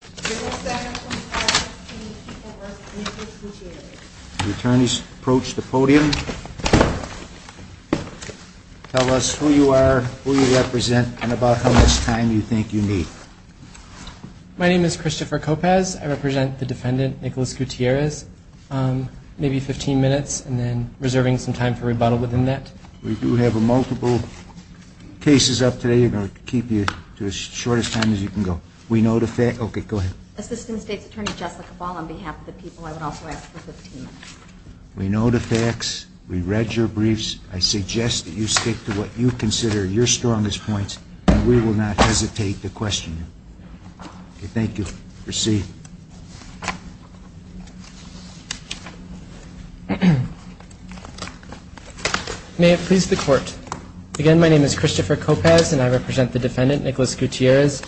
The attorneys approach the podium. Tell us who you are, who you represent, and about how much time you think you need. My name is Christopher Copez. I represent the defendant, Nicholas Gutierrez. Maybe 15 minutes, and then reserving some time for rebuttal within that. We do have multiple cases up today, and we'll keep you to as short a time as you can go. Assistant State's Attorney Jessica Ball, on behalf of the people, I would also ask for 15 minutes. We know the facts. We read your briefs. I suggest that you stick to what you consider your strongest points, and we will not hesitate to question you. Thank you. Proceed. May it please the Court. Again, my name is Christopher Copez, and I represent the defendant, Nicholas Gutierrez.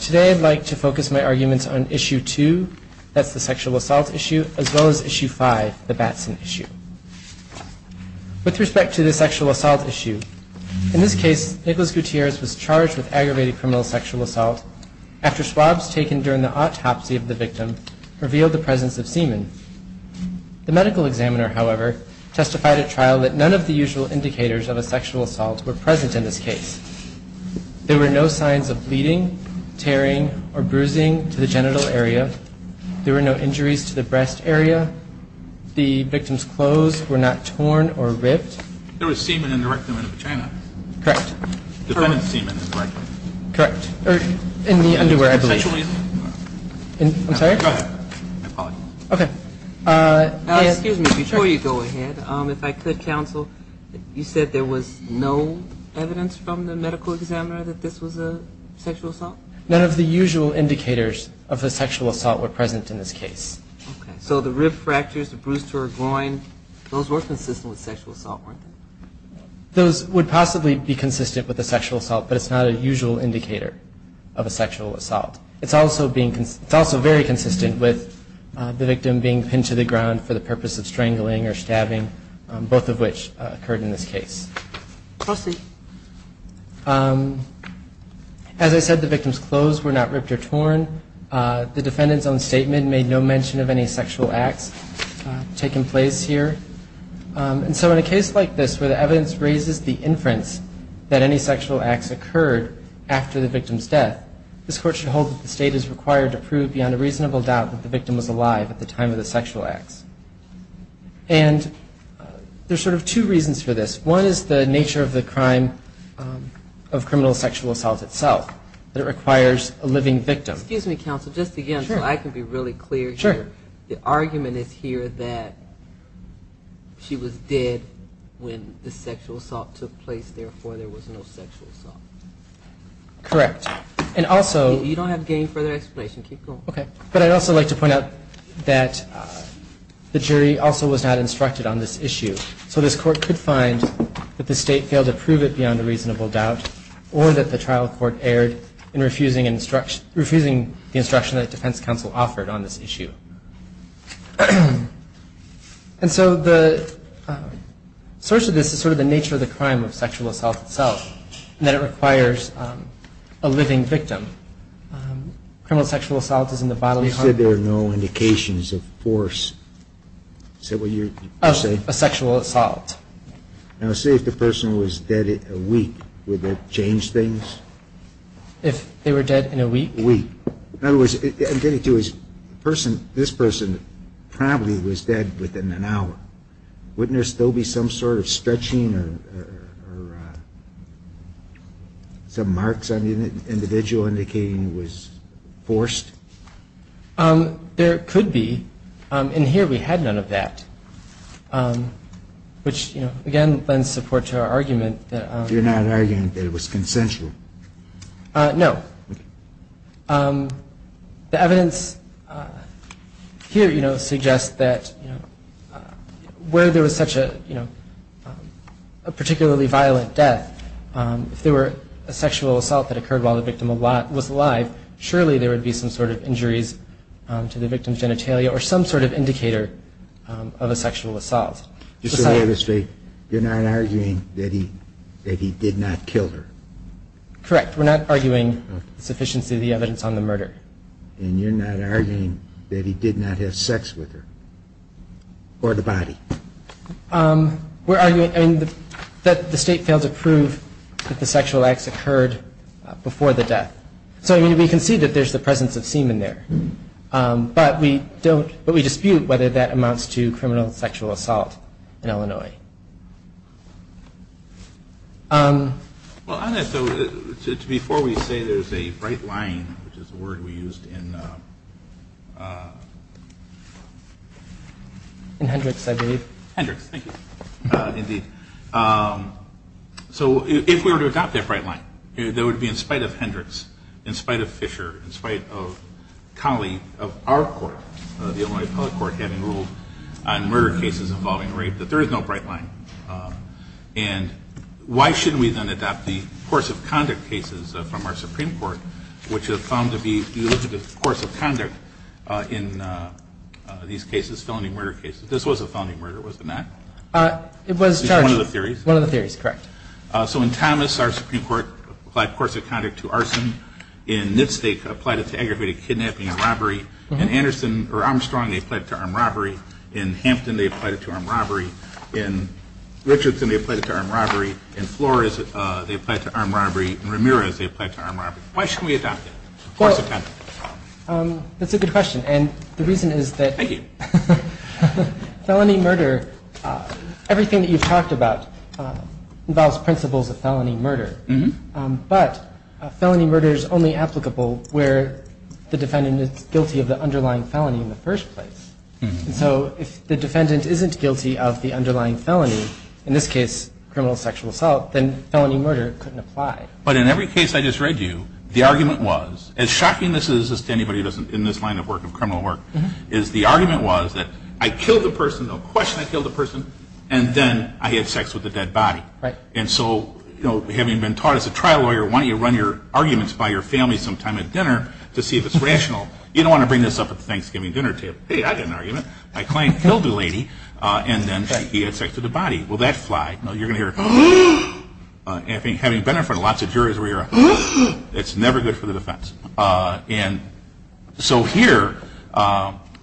Today I'd like to focus my arguments on Issue 2, that's the sexual assault issue, as well as Issue 5, the Batson issue. With respect to the sexual assault issue, in this case, Nicholas Gutierrez was charged with aggravated criminal sexual assault after swabs taken during the autopsy of the victim revealed the presence of semen. The medical examiner, however, testified at trial that none of the usual indicators of a sexual assault were present in this case. There were no signs of bleeding, tearing, or bruising to the genital area. There were no injuries to the breast area. The victim's clothes were not torn or ripped. There was semen in the rectum and vagina. Correct. Defendant's semen, is that correct? Correct. In the underwear, I believe. I'm sorry? Go ahead. Okay. Excuse me, before you go ahead, if I could, counsel, you said there was no evidence from the medical examiner that this was a sexual assault? None of the usual indicators of a sexual assault were present in this case. Okay. So the rib fractures, the bruise to her groin, those were consistent with sexual assault, weren't they? Those would possibly be consistent with a sexual assault, but it's not a usual indicator of a sexual assault. It's also very consistent with the victim being pinned to the ground for the purpose of strangling or stabbing, both of which occurred in this case. Proceed. As I said, the victim's clothes were not ripped or torn. The defendant's own statement made no mention of any sexual acts taking place here. And so in a case like this where the evidence raises the inference that any sexual acts occurred after the victim's death, this Court should hold that the State is required to prove beyond a reasonable doubt that the victim was alive at the time of the sexual acts. And there's sort of two reasons for this. One is the nature of the crime of criminal sexual assault itself, that it requires a living victim. Excuse me, counsel, just again, so I can be really clear here. Sure. The argument is here that she was dead when the sexual assault took place, therefore there was no sexual assault. Correct. And also... You don't have gain further explanation. Keep going. Okay. But I'd also like to point out that the jury also was not instructed on this issue. So this Court could find that the State failed to prove it beyond a reasonable doubt or that the trial court erred in refusing the instruction that defense counsel offered on this issue. And so the source of this is sort of the nature of the crime of sexual assault itself, and that it requires a living victim. Criminal sexual assault is in the bodily harm... You said there are no indications of force. Is that what you say? A sexual assault. Now, say if the person was dead in a week, would that change things? If they were dead in a week? Week. In other words, I'm getting to his person, this person probably was dead within an hour. Wouldn't there still be some sort of stretching or some marks on the individual indicating it was forced? There could be. And here we had none of that, which, again, lends support to our argument that... You're not arguing that it was consensual? No. The evidence here suggests that where there was such a particularly violent death, if there were a sexual assault that occurred while the victim was alive, surely there would be some sort of injuries to the victim's genitalia or some sort of indicator of a sexual assault. Just to reiterate, you're not arguing that he did not kill her? Correct. We're not arguing the sufficiency of the evidence on the murder. And you're not arguing that he did not have sex with her? Or the body? We're arguing that the state failed to prove that the sexual acts occurred before the death. So we can see that there's the presence of semen there, but we dispute whether that amounts to criminal sexual assault in Illinois. Before we say there's a bright line, which is the word we used in... In Hendricks, I believe. Hendricks, thank you. Indeed. So if we were to adopt that bright line, that would be in spite of Hendricks, in spite of Fisher, in spite of Colley, of our court, the Illinois Appellate Court, having ruled on murder cases involving rape, that there is no bright line. And why shouldn't we then adopt the course of conduct cases from our Supreme Court, which have found to be the eligible course of conduct in these cases, felony murder cases? This was a felony murder, wasn't it? It was charged. One of the theories. One of the theories, correct. So in Thomas, our Supreme Court applied course of conduct to arson. In Nitz, they applied it to aggravated kidnapping and robbery. In Andersen or Armstrong, they applied it to armed robbery. In Hampton, they applied it to armed robbery. In Richardson, they applied it to armed robbery. In Flores, they applied it to armed robbery. In Ramirez, they applied it to armed robbery. Why shouldn't we adopt it? Course of conduct. That's a good question. And the reason is that... Thank you. Felony murder, everything that you've talked about involves principles of felony murder. But felony murder is only applicable where the defendant is guilty of the underlying felony in the first place. And so if the defendant isn't guilty of the underlying felony, in this case criminal sexual assault, then felony murder couldn't apply. But in every case I just read you, the argument was, as shocking this is to anybody in this line of work, of criminal work, is the argument was that I killed a person, no question I killed a person, and then I had sex with a dead body. And so having been taught as a trial lawyer, why don't you run your arguments by your family sometime at dinner to see if it's rational. You don't want to bring this up at the Thanksgiving dinner table. Hey, I got an argument. My client killed a lady, and then he had sex with a body. Will that fly? No, you're going to hear... Having been in front of lots of juries where you're... It's never good for the defense. And so here,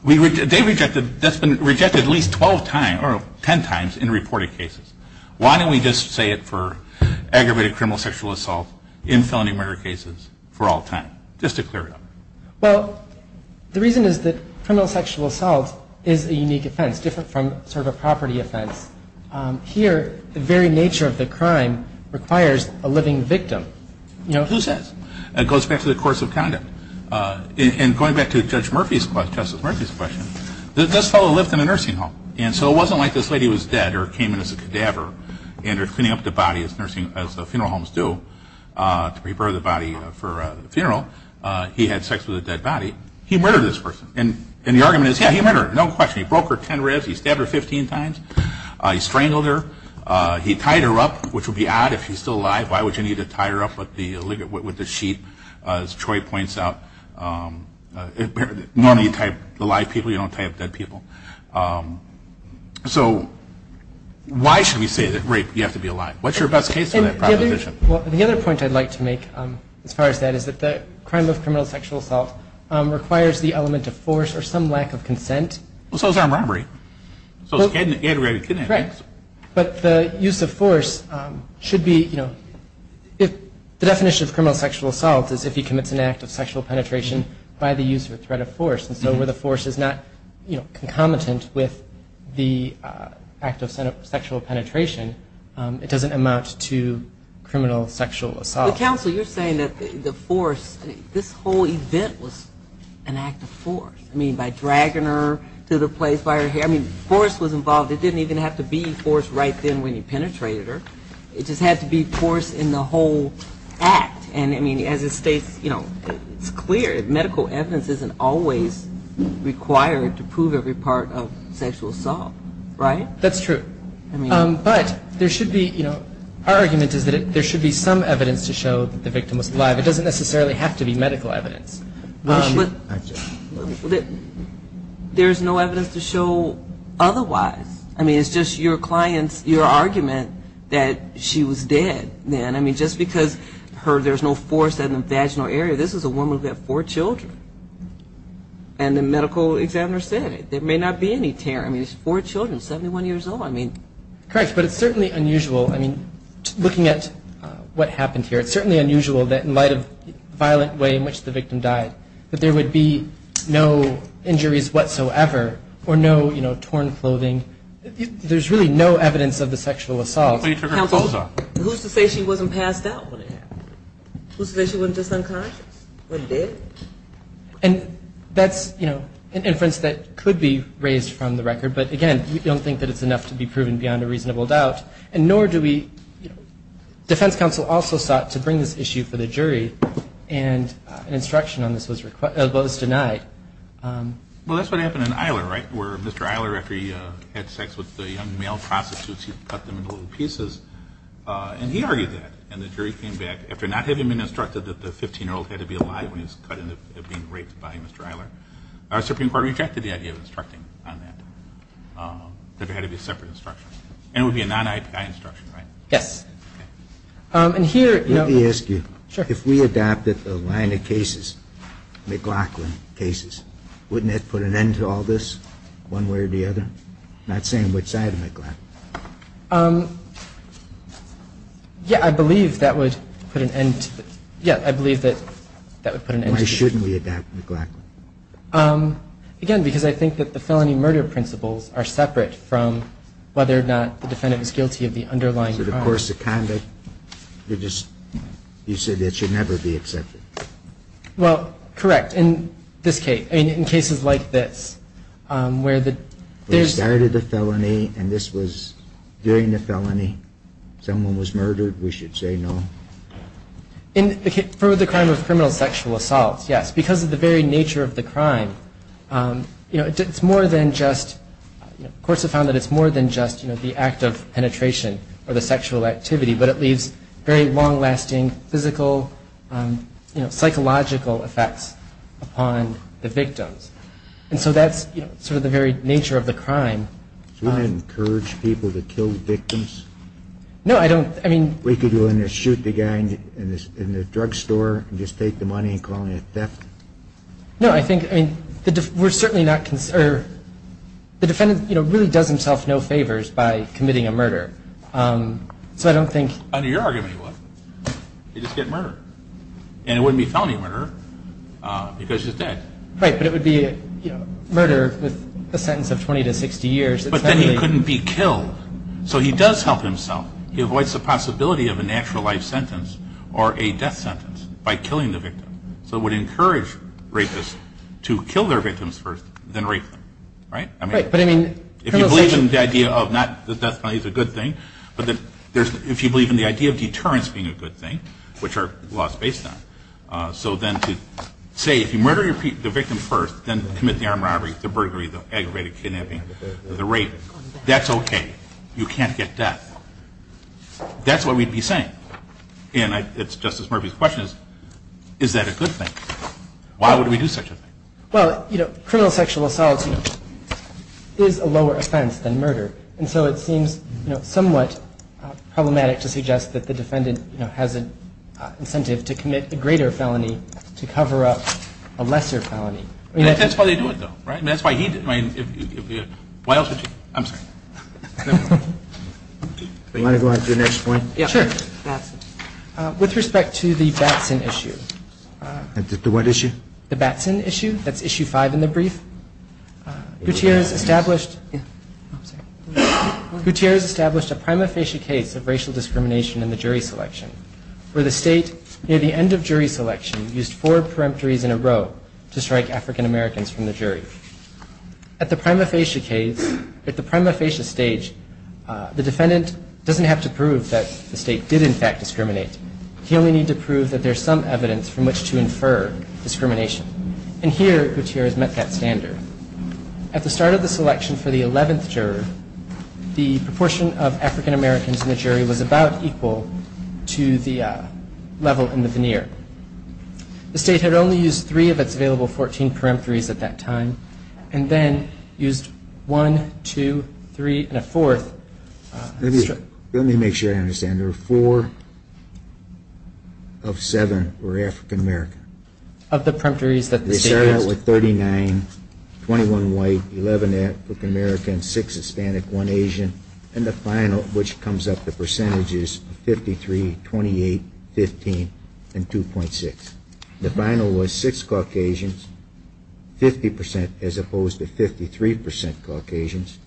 they rejected, that's been rejected at least 12 times, or 10 times, in reported cases. Why don't we just say it for aggravated criminal sexual assault in felony murder cases for all time, just to clear it up. Well, the reason is that criminal sexual assault is a unique offense, different from sort of a property offense. Here, the very nature of the crime requires a living victim. You know, who says? It goes back to the course of conduct. And going back to Justice Murphy's question, this fellow lived in a nursing home. And so it wasn't like this lady was dead or came in as a cadaver and they're cleaning up the body as funeral homes do to prepare the body for a funeral. He had sex with a dead body. He murdered this person. And the argument is, yeah, he murdered her. No question. He broke her 10 ribs. He stabbed her 15 times. He strangled her. He tied her up, which would be odd if she's still alive. Why would you need to tie her up with the sheep, as Troy points out? Normally you tie up the live people. You don't tie up dead people. So why should we say that rape, you have to be alive? What's your best case for that proposition? Well, the other point I'd like to make as far as that is that the crime of criminal sexual assault requires the element of force or some lack of consent. Well, so is armed robbery. So is aggravated kidnapping. Correct. But the use of force should be, you know, the definition of criminal sexual assault is if he commits an act of sexual penetration by the use or threat of force. And so where the force is not concomitant with the act of sexual penetration, it doesn't amount to criminal sexual assault. But, counsel, you're saying that the force, this whole event was an act of force. I mean, by dragging her to the place by her hair. I mean, force was involved. It didn't even have to be force right then when you penetrated her. It just had to be force in the whole act. And, I mean, as it states, you know, it's clear. Medical evidence isn't always required to prove every part of sexual assault. Right? That's true. But there should be, you know, our argument is that there should be some evidence to show that the victim was alive. It doesn't necessarily have to be medical evidence. There's no evidence to show otherwise. I mean, it's just your client's, your argument that she was dead. And, I mean, just because there's no force in the vaginal area, this is a woman who had four children. And the medical examiner said it. There may not be any tear. I mean, four children, 71 years old. I mean. Correct. But it's certainly unusual. I mean, looking at what happened here, it's certainly unusual that in light of the violent way in which the victim died, that there would be no injuries whatsoever or no, you know, torn clothing. There's really no evidence of the sexual assault. Who's to say she wasn't passed out when it happened? Who's to say she wasn't just unconscious, wasn't dead? And that's, you know, an inference that could be raised from the record. But, again, we don't think that it's enough to be proven beyond a reasonable doubt. And nor do we, you know, defense counsel also sought to bring this issue for the jury and an instruction on this was denied. Well, that's what happened in Isler, right, where Mr. Isler, after he had sex with the young male prostitutes, he cut them into little pieces. And he argued that. And the jury came back, after not having been instructed that the 15-year-old had to be alive when he was cut and being raped by Mr. Isler, our Supreme Court rejected the idea of instructing on that, that there had to be a separate instruction. And it would be a non-IPI instruction, right? Yes. Okay. And here, you know. Let me ask you. Sure. If we adopted the line of cases, McLaughlin cases, wouldn't it put an end to all this, one way or the other? I'm not saying which side of McLaughlin. Yeah, I believe that would put an end to it. Yeah, I believe that that would put an end to it. Why shouldn't we adopt McLaughlin? Again, because I think that the felony murder principles are separate from whether or not the defendant is guilty of the underlying crime. So the course of conduct, you're just, you say that should never be accepted. Well, correct. In this case, I mean, in cases like this, where there's... We started the felony, and this was during the felony. Someone was murdered, we should say no. For the crime of criminal sexual assault, yes. Because of the very nature of the crime, you know, it's more than just... But it leaves very long-lasting physical, you know, psychological effects upon the victims. And so that's, you know, sort of the very nature of the crime. Do we encourage people to kill victims? No, I don't. I mean... We could go in there, shoot the guy in the drugstore, and just take the money and call it a theft. No, I think... I mean, we're certainly not... The defendant, you know, really does himself no favors by committing a murder. So I don't think... Under your argument, he wouldn't. He'd just get murdered. And it wouldn't be a felony murder because he's dead. Right, but it would be a murder with a sentence of 20 to 60 years. But then he couldn't be killed. So he does help himself. He avoids the possibility of a natural life sentence or a death sentence by killing the victim. So it would encourage rapists to kill their victims first, then rape them. Right? Right, but I mean... If you believe in the idea of not... the death penalty is a good thing, but if you believe in the idea of deterrence being a good thing, which are laws based on. So then to say if you murder the victim first, then commit the armed robbery, the burglary, the aggravated kidnapping, the rape, that's okay. You can't get death. That's what we'd be saying. And it's Justice Murphy's question is, is that a good thing? Why would we do such a thing? Well, you know, criminal sexual assault is a lower offense than murder, and so it seems somewhat problematic to suggest that the defendant has an incentive to commit a greater felony to cover up a lesser felony. That's why they do it, though, right? That's why he did it. Why else would you? I'm sorry. Do you want to go on to your next point? Yeah, sure. With respect to the Batson issue. The what issue? The Batson issue. That's issue five in the brief. Gutierrez established a prima facie case of racial discrimination in the jury selection where the state, near the end of jury selection, used four peremptories in a row to strike African-Americans from the jury. At the prima facie case, at the prima facie stage, the defendant doesn't have to prove that the state did, in fact, discriminate. He only needs to prove that there's some evidence from which to infer discrimination. And here, Gutierrez met that standard. At the start of the selection for the 11th juror, the proportion of African-Americans in the jury was about equal to the level in the veneer. The state had only used three of its available 14 peremptories at that time and then used one, two, three, and a fourth. Let me make sure I understand. There were four of seven were African-American. Of the peremptories that the state used? They started out with 39, 21 white, 11 African-American, six Hispanic, one Asian, and the final, which comes up to percentages, 53, 28, 15, and 2.6. The final was six Caucasians, 50% as opposed to 53% Caucasians,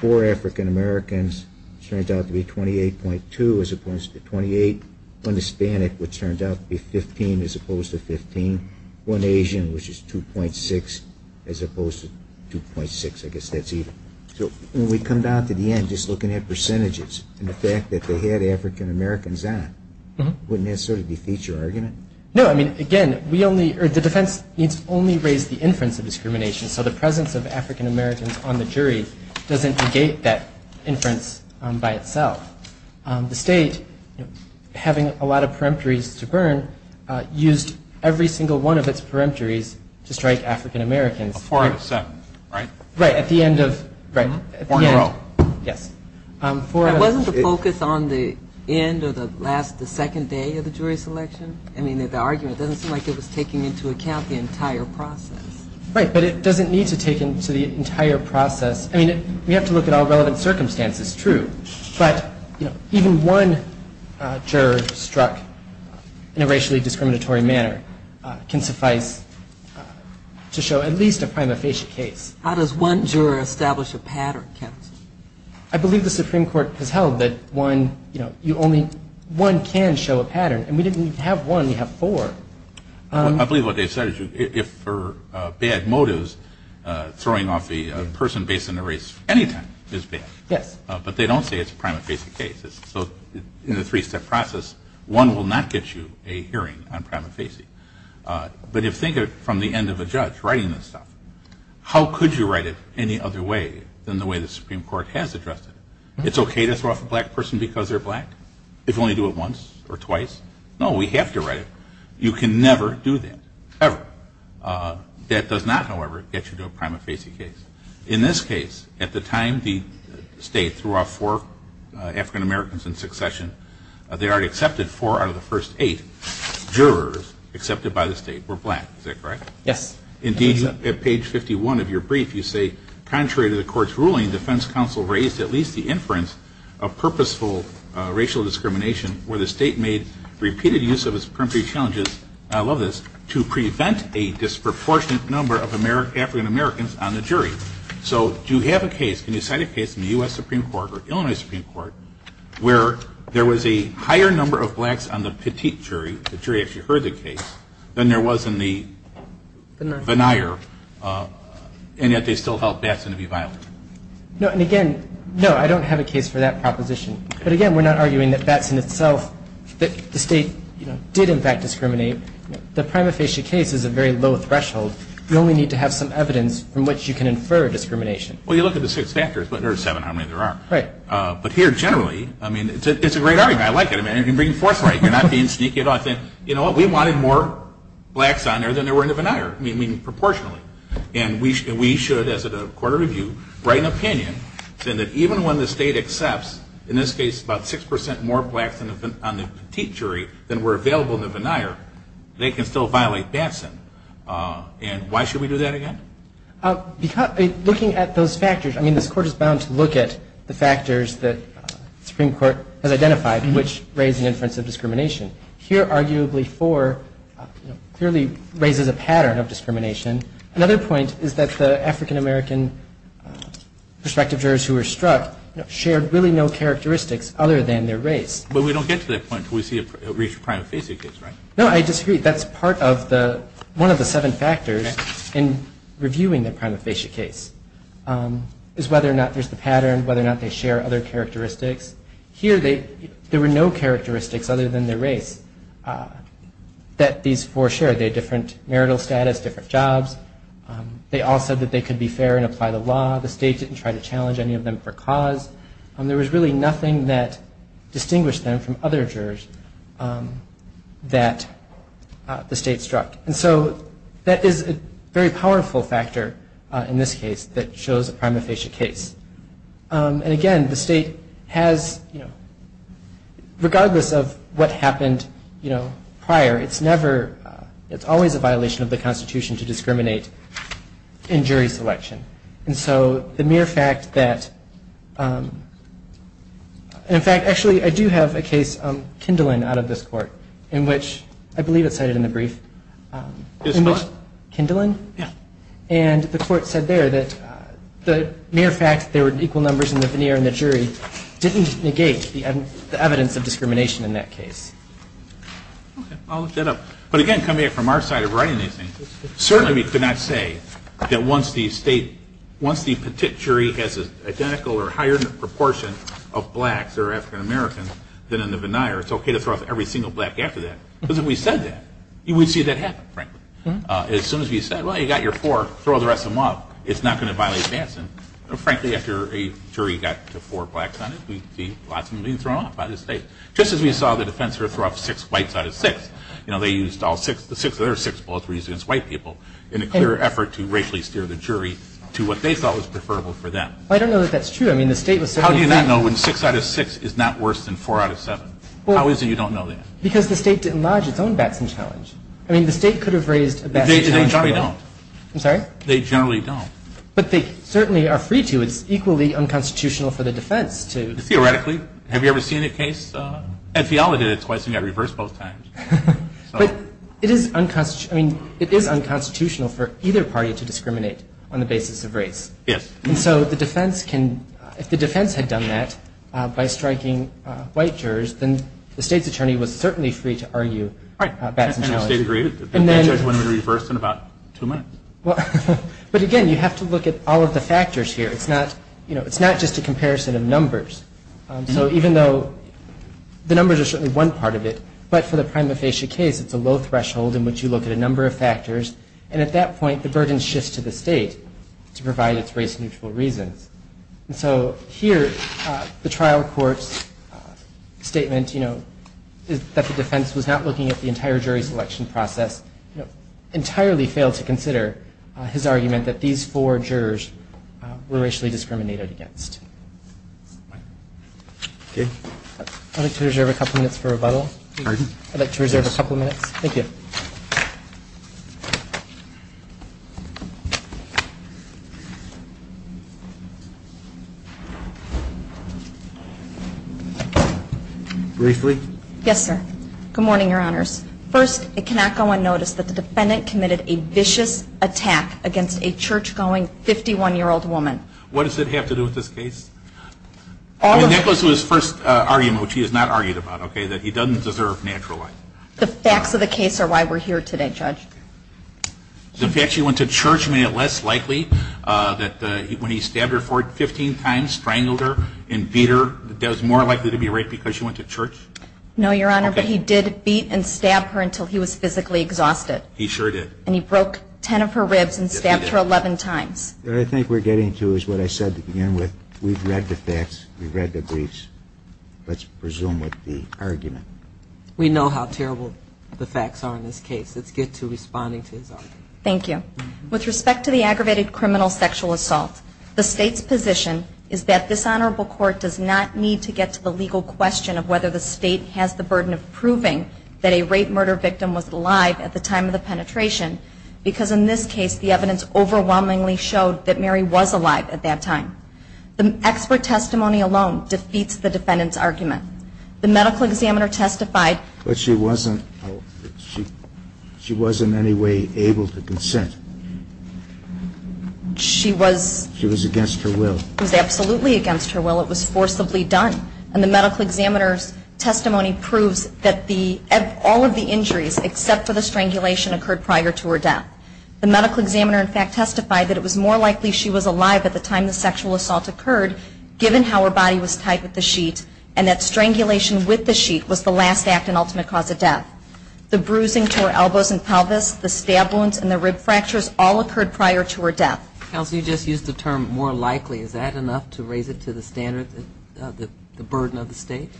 four African-Americans, turned out to be 28.2 as opposed to 28, one Hispanic, which turned out to be 15 as opposed to 15, one Asian, which is 2.6 as opposed to 2.6. I guess that's even. So when we come down to the end, just looking at percentages and the fact that they had African-Americans on, wouldn't that sort of defeat your argument? No. I mean, again, the defense needs only raise the inference of discrimination, so the presence of African-Americans on the jury doesn't negate that inference by itself. The state, having a lot of peremptories to burn, used every single one of its peremptories to strike African-Americans. Four out of seven, right? Right. At the end of, right. Four in a row. Yes. Wasn't the focus on the end or the last, the second day of the jury selection? I mean, the argument doesn't seem like it was taking into account the entire process. Right, but it doesn't need to take into the entire process. I mean, we have to look at all relevant circumstances. True. But, you know, even one juror struck in a racially discriminatory manner can suffice to show at least a prima facie case. How does one juror establish a pattern, counsel? I believe the Supreme Court has held that one, you know, you only, one can show a pattern. And we didn't have one. We have four. I believe what they said is if for bad motives, throwing off the person based on their race any time is bad. Yes. But they don't say it's a prima facie case. So in the three-step process, one will not get you a hearing on prima facie. But if, think of it from the end of a judge writing this stuff, how could you write it any other way than the way the Supreme Court has addressed it? It's okay to throw off a black person because they're black? If you only do it once or twice? No, we have to write it. You can never do that, ever. That does not, however, get you to a prima facie case. In this case, at the time the state threw off four African Americans in succession, they already accepted four out of the first eight jurors accepted by the state were black. Is that correct? Yes. Indeed, at page 51 of your brief, you say, contrary to the court's ruling, the defense counsel raised at least the inference of purposeful racial discrimination where the state made repeated use of its peremptory challenges, and I love this, to prevent a disproportionate number of African Americans on the jury. So do you have a case, can you cite a case in the U.S. Supreme Court or Illinois Supreme Court where there was a higher number of blacks on the petite jury, the jury actually heard the case, than there was in the veneer, and yet they still held Batson to be violent? No, and again, no, I don't have a case for that proposition. But again, we're not arguing that Batson itself, that the state did in fact discriminate. The prima facie case is a very low threshold. You only need to have some evidence from which you can infer discrimination. Well, you look at the six factors, or seven, however many there are. Right. But here, generally, I mean, it's a great argument. I like it. I mean, you're bringing forth right. You're not being sneaky at all. You know what, we wanted more blacks on there than there were in the veneer. I mean, proportionally. And we should, as a court of review, write an opinion saying that even when the state accepts, in this case, about 6% more blacks on the petite jury than were available in the veneer, they can still violate Batson. And why should we do that again? Looking at those factors, I mean, this Court is bound to look at the factors that the Supreme Court has identified which raise an inference of discrimination. Here, arguably, four clearly raises a pattern of discrimination. Another point is that the African-American prospective jurors who were struck shared really no characteristics other than their race. But we don't get to that point until we see a reached prima facie case, right? No, I disagree. That's part of the one of the seven factors in reviewing the prima facie case, is whether or not there's the pattern, whether or not they share other characteristics. Here, there were no characteristics other than their race that these four shared. They had different marital status, different jobs. They all said that they could be fair and apply the law. The state didn't try to challenge any of them for cause. There was really nothing that distinguished them from other jurors that the state struck. And so that is a very powerful factor in this case that shows a prima facie case. And again, the state has, you know, regardless of what happened, you know, prior, it's never, it's always a violation of the Constitution to discriminate in jury selection. And so the mere fact that, in fact, actually, I do have a case, Kindlin, out of this court, in which, I believe it's cited in the brief. Is what? Kindlin? Yeah. And the court said there that the mere fact there were equal numbers in the veneer in the jury didn't negate the evidence of discrimination in that case. Okay. I'll lift that up. But again, coming in from our side of writing these things, certainly we could not say that once the state, once the jury has an identical or higher proportion of blacks or African-Americans than in the veneer, it's okay to throw out every single black after that. Because if we said that, we'd see that happen, frankly. As soon as we said, well, you got your four, throw the rest of them off, it's not going to violate Batson. Frankly, after a jury got to four blacks on it, we'd see lots of them being thrown off by the state. Just as we saw the defense throw off six whites out of six. You know, they used all six of their six bullets were used against white people in a clear effort to racially steer the jury to what they thought was preferable for them. I don't know that that's true. I mean, the state was certainly. How do you not know when six out of six is not worse than four out of seven? How is it you don't know that? Because the state didn't lodge its own Batson challenge. I mean, the state could have raised a Batson challenge. They generally don't. I'm sorry? They generally don't. But they certainly are free to. It's equally unconstitutional for the defense to. Theoretically. Have you ever seen a case? Ed Fiala did it twice and got reversed both times. But it is unconstitutional for either party to discriminate on the basis of race. Yes. And so the defense can, if the defense had done that by striking white jurors, then the state's attorney was certainly free to argue Batson challenges. And the state agreed? The judge went in reverse in about two minutes? But again, you have to look at all of the factors here. It's not just a comparison of numbers. So even though the numbers are certainly one part of it, but for the prima facie case, it's a low threshold in which you look at a number of factors. And at that point, the burden shifts to the state to provide its race-neutral reasons. And so here, the trial court's statement, you know, that the defense was not looking at the entire jury selection process, entirely failed to consider his argument that these four jurors were racially discriminated against. Okay. I'd like to reserve a couple minutes for rebuttal. Pardon? I'd like to reserve a couple minutes. Thank you. Briefly? Yes, sir. Good morning, Your Honors. First, it cannot go unnoticed that the defendant committed a vicious attack against a church-going 51-year-old woman. What does it have to do with this case? I mean, that goes to his first argument, which he has not argued about, okay, that he doesn't deserve natural life. The facts of the case are why we're here today, Judge. The fact she went to church made it less likely that when he stabbed her four times, strangled her and beat her, that it was more likely to be right because she went to church? No, Your Honor, but he did beat and stab her until he was physically exhausted. He sure did. And he broke 10 of her ribs and stabbed her 11 times. What I think we're getting to is what I said to begin with. We've read the facts. We've read the briefs. Let's resume with the argument. We know how terrible the facts are in this case. Let's get to responding to his argument. Thank you. With respect to the aggravated criminal sexual assault, the State's position is that this Honorable Court does not need to get to the legal question of whether the State has the burden of proving that a rape-murder victim was alive at the time of the penetration because, in this case, the evidence overwhelmingly showed that Mary was alive at that time. The expert testimony alone defeats the defendant's argument. The medical examiner testified. But she wasn't in any way able to consent. She was. She was against her will. She was absolutely against her will. It was forcibly done. And the medical examiner's testimony proves that all of the injuries, except for the strangulation, occurred prior to her death. The medical examiner, in fact, testified that it was more likely she was alive at the time the sexual assault occurred given how her body was tied with the sheet and that strangulation with the sheet was the last act and ultimate cause of death. The bruising to her elbows and pelvis, the stab wounds, and the rib fractures all occurred prior to her death. Counsel, you just used the term more likely. Is that enough to raise it to the standard, the burden of the State?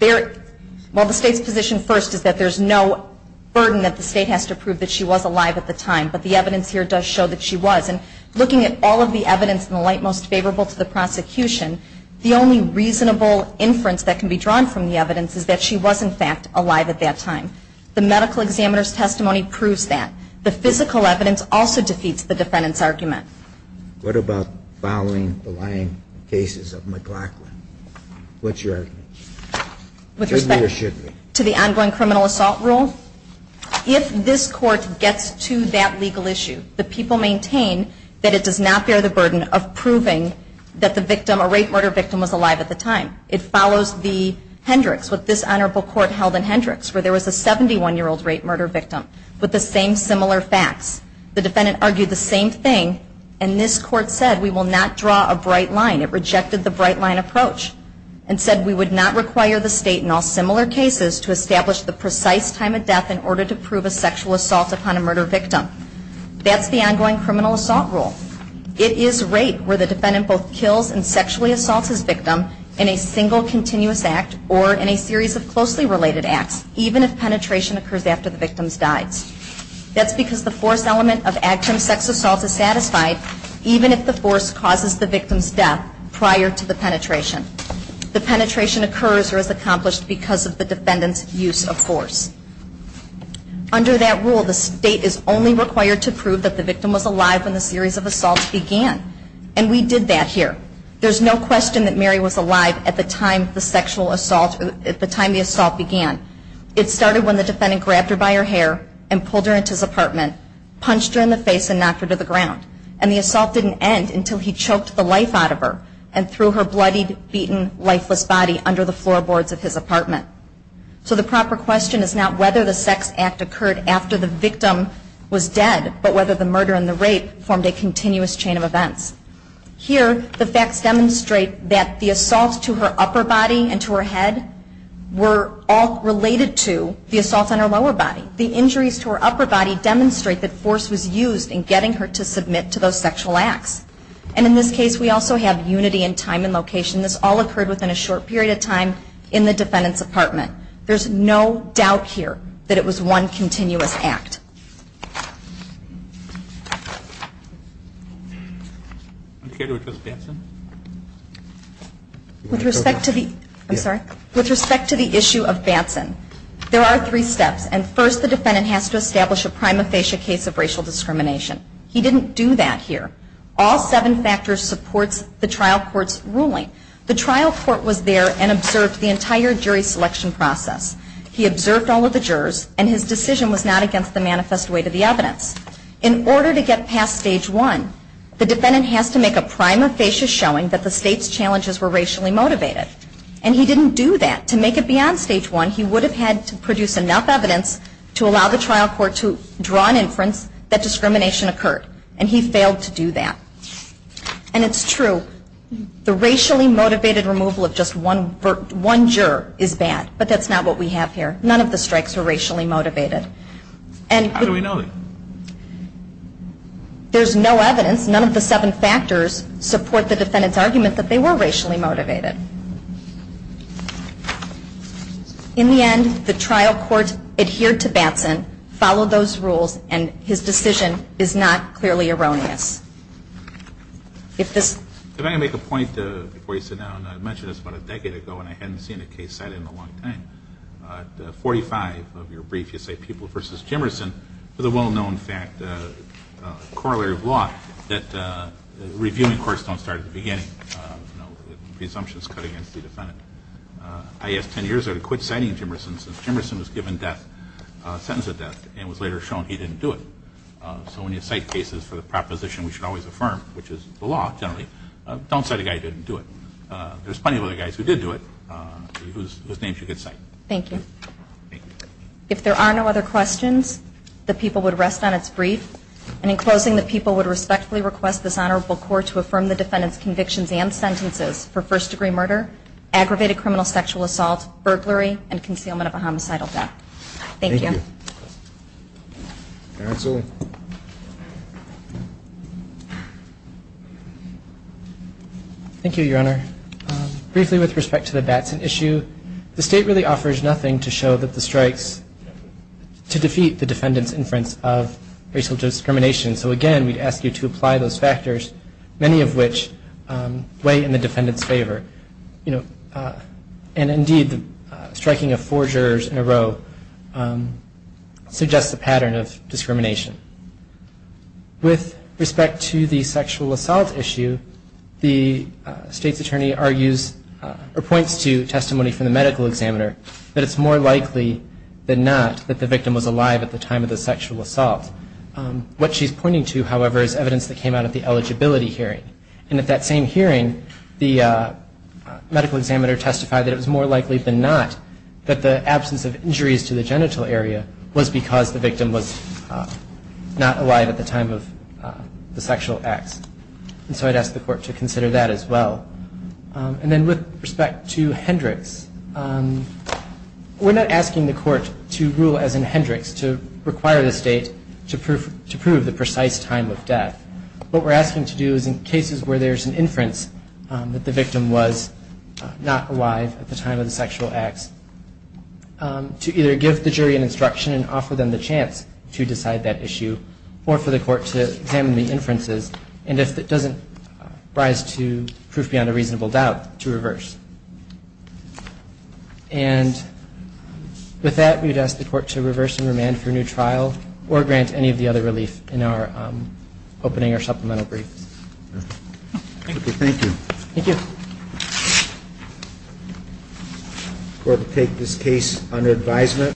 Well, the State's position first is that there's no burden that the State has to prove that she was alive at the time. But the evidence here does show that she was. And looking at all of the evidence in the light most favorable to the prosecution, the only reasonable inference that can be drawn from the evidence is that she was, in fact, alive at that time. The medical examiner's testimony proves that. The physical evidence also defeats the defendant's argument. What about following the lying cases of McLaughlin? What's your argument? With respect to the ongoing criminal assault rule? If this Court gets to that legal issue, the people maintain that it does not bear the burden of proving that the victim, a rape-murder victim, was alive at the time. It follows the Hendricks, what this Honorable Court held in Hendricks, where there was a 71-year-old rape-murder victim with the same similar facts. The defendant argued the same thing, and this Court said we will not draw a bright line. It rejected the bright-line approach and said we would not require the State in all similar cases to establish the precise time of death in order to prove a sexual assault upon a murder victim. That's the ongoing criminal assault rule. It is rape where the defendant both kills and sexually assaults his victim in a single continuous act or in a series of closely related acts, even if penetration occurs after the victim dies. That's because the force element of active sex assault is satisfied even if the force causes the victim's death prior to the penetration. The penetration occurs or is accomplished because of the defendant's use of force. Under that rule, the State is only required to prove that the victim was alive when the series of assaults began. And we did that here. There's no question that Mary was alive at the time the assault began. It started when the defendant grabbed her by her hair and pulled her into his apartment, punched her in the face, and knocked her to the ground. And the assault didn't end until he choked the life out of her and threw her bloodied, beaten, lifeless body under the floorboards of his apartment. So the proper question is not whether the sex act occurred after the victim was dead, but whether the murder and the rape formed a continuous chain of events. Here, the facts demonstrate that the assaults to her upper body and to her head were all related to the assaults on her lower body. The injuries to her upper body demonstrate that force was used in getting her to submit to those sexual acts. And in this case, we also have unity in time and location. This all occurred within a short period of time in the defendant's apartment. There's no doubt here that it was one continuous act. With respect to the issue of Batson, there are three steps. And first, the defendant has to establish a prima facie case of racial discrimination. He didn't do that here. All seven factors supports the trial court's ruling. The trial court was there and observed the entire jury selection process. He observed all of the jurors, and his decision was not against the manifest weight of the evidence. In order to get past Stage 1, the defendant has to make a prima facie showing that the state's challenges were racially motivated. And he didn't do that. To make it beyond Stage 1, he would have had to produce enough evidence to allow the trial court to draw an inference that discrimination occurred. And he failed to do that. And it's true. The racially motivated removal of just one juror is bad, but that's not what we have here. None of the strikes were racially motivated. How do we know that? There's no evidence. None of the seven factors support the defendant's argument that they were racially motivated. In the end, the trial court adhered to Batson, followed those rules, and his decision is not clearly erroneous. If this ‑‑ If I can make a point before you sit down. I mentioned this about a decade ago, and I hadn't seen a case cited in a long time. 45 of your briefs, you say People v. Jimmerson, with a well-known fact, a corollary of law, that reviewing courts don't start at the beginning. You know, presumptions cut against the defendant. I asked 10 years ago to quit citing Jimmerson, since Jimmerson was given death, a sentence of death, and it was later shown he didn't do it. So when you cite cases for the proposition we should always affirm, which is the law generally, don't say the guy didn't do it. There's plenty of other guys who did do it whose names you could cite. Thank you. Thank you. If there are no other questions, the People would rest on its brief. And in closing, the People would respectfully request this Honorable Court to affirm the defendant's convictions and sentences for first‑degree murder, aggravated criminal sexual assault, burglary, and concealment of a homicidal theft. Thank you. Thank you. Counsel. Thank you, Your Honor. Briefly with respect to the Batson issue, the State really offers nothing to show that the strikes to defeat the defendant's inference of racial discrimination. So, again, we'd ask you to apply those factors, many of which weigh in the defendant's favor. And, indeed, the striking of four jurors in a row suggests a pattern of discrimination. With respect to the sexual assault issue, the State's attorney argues, or points to testimony from the medical examiner, that it's more likely than not that the victim was alive at the time of the sexual assault. What she's pointing to, however, is evidence that came out at the eligibility hearing. And at that same hearing, the medical examiner testified that it was more likely than not that the absence of injuries to the genital area was because the victim was not alive at the time of the sexual acts. And so I'd ask the Court to consider that as well. And then with respect to Hendricks, we're not asking the Court to rule as in Hendricks, to require the State to prove the precise time of death. What we're asking to do is, in cases where there's an inference that the victim was not alive at the time of the sexual acts, to either give the jury an instruction and offer them the chance to decide that issue, or for the Court to examine the inferences, and if it doesn't rise to proof beyond a reasonable doubt, to reverse. And with that, we'd ask the Court to reverse and remand for a new trial, or grant any of the other relief in our opening or supplemental brief. Thank you. Thank you. Thank you. The Court will take this case under advisement.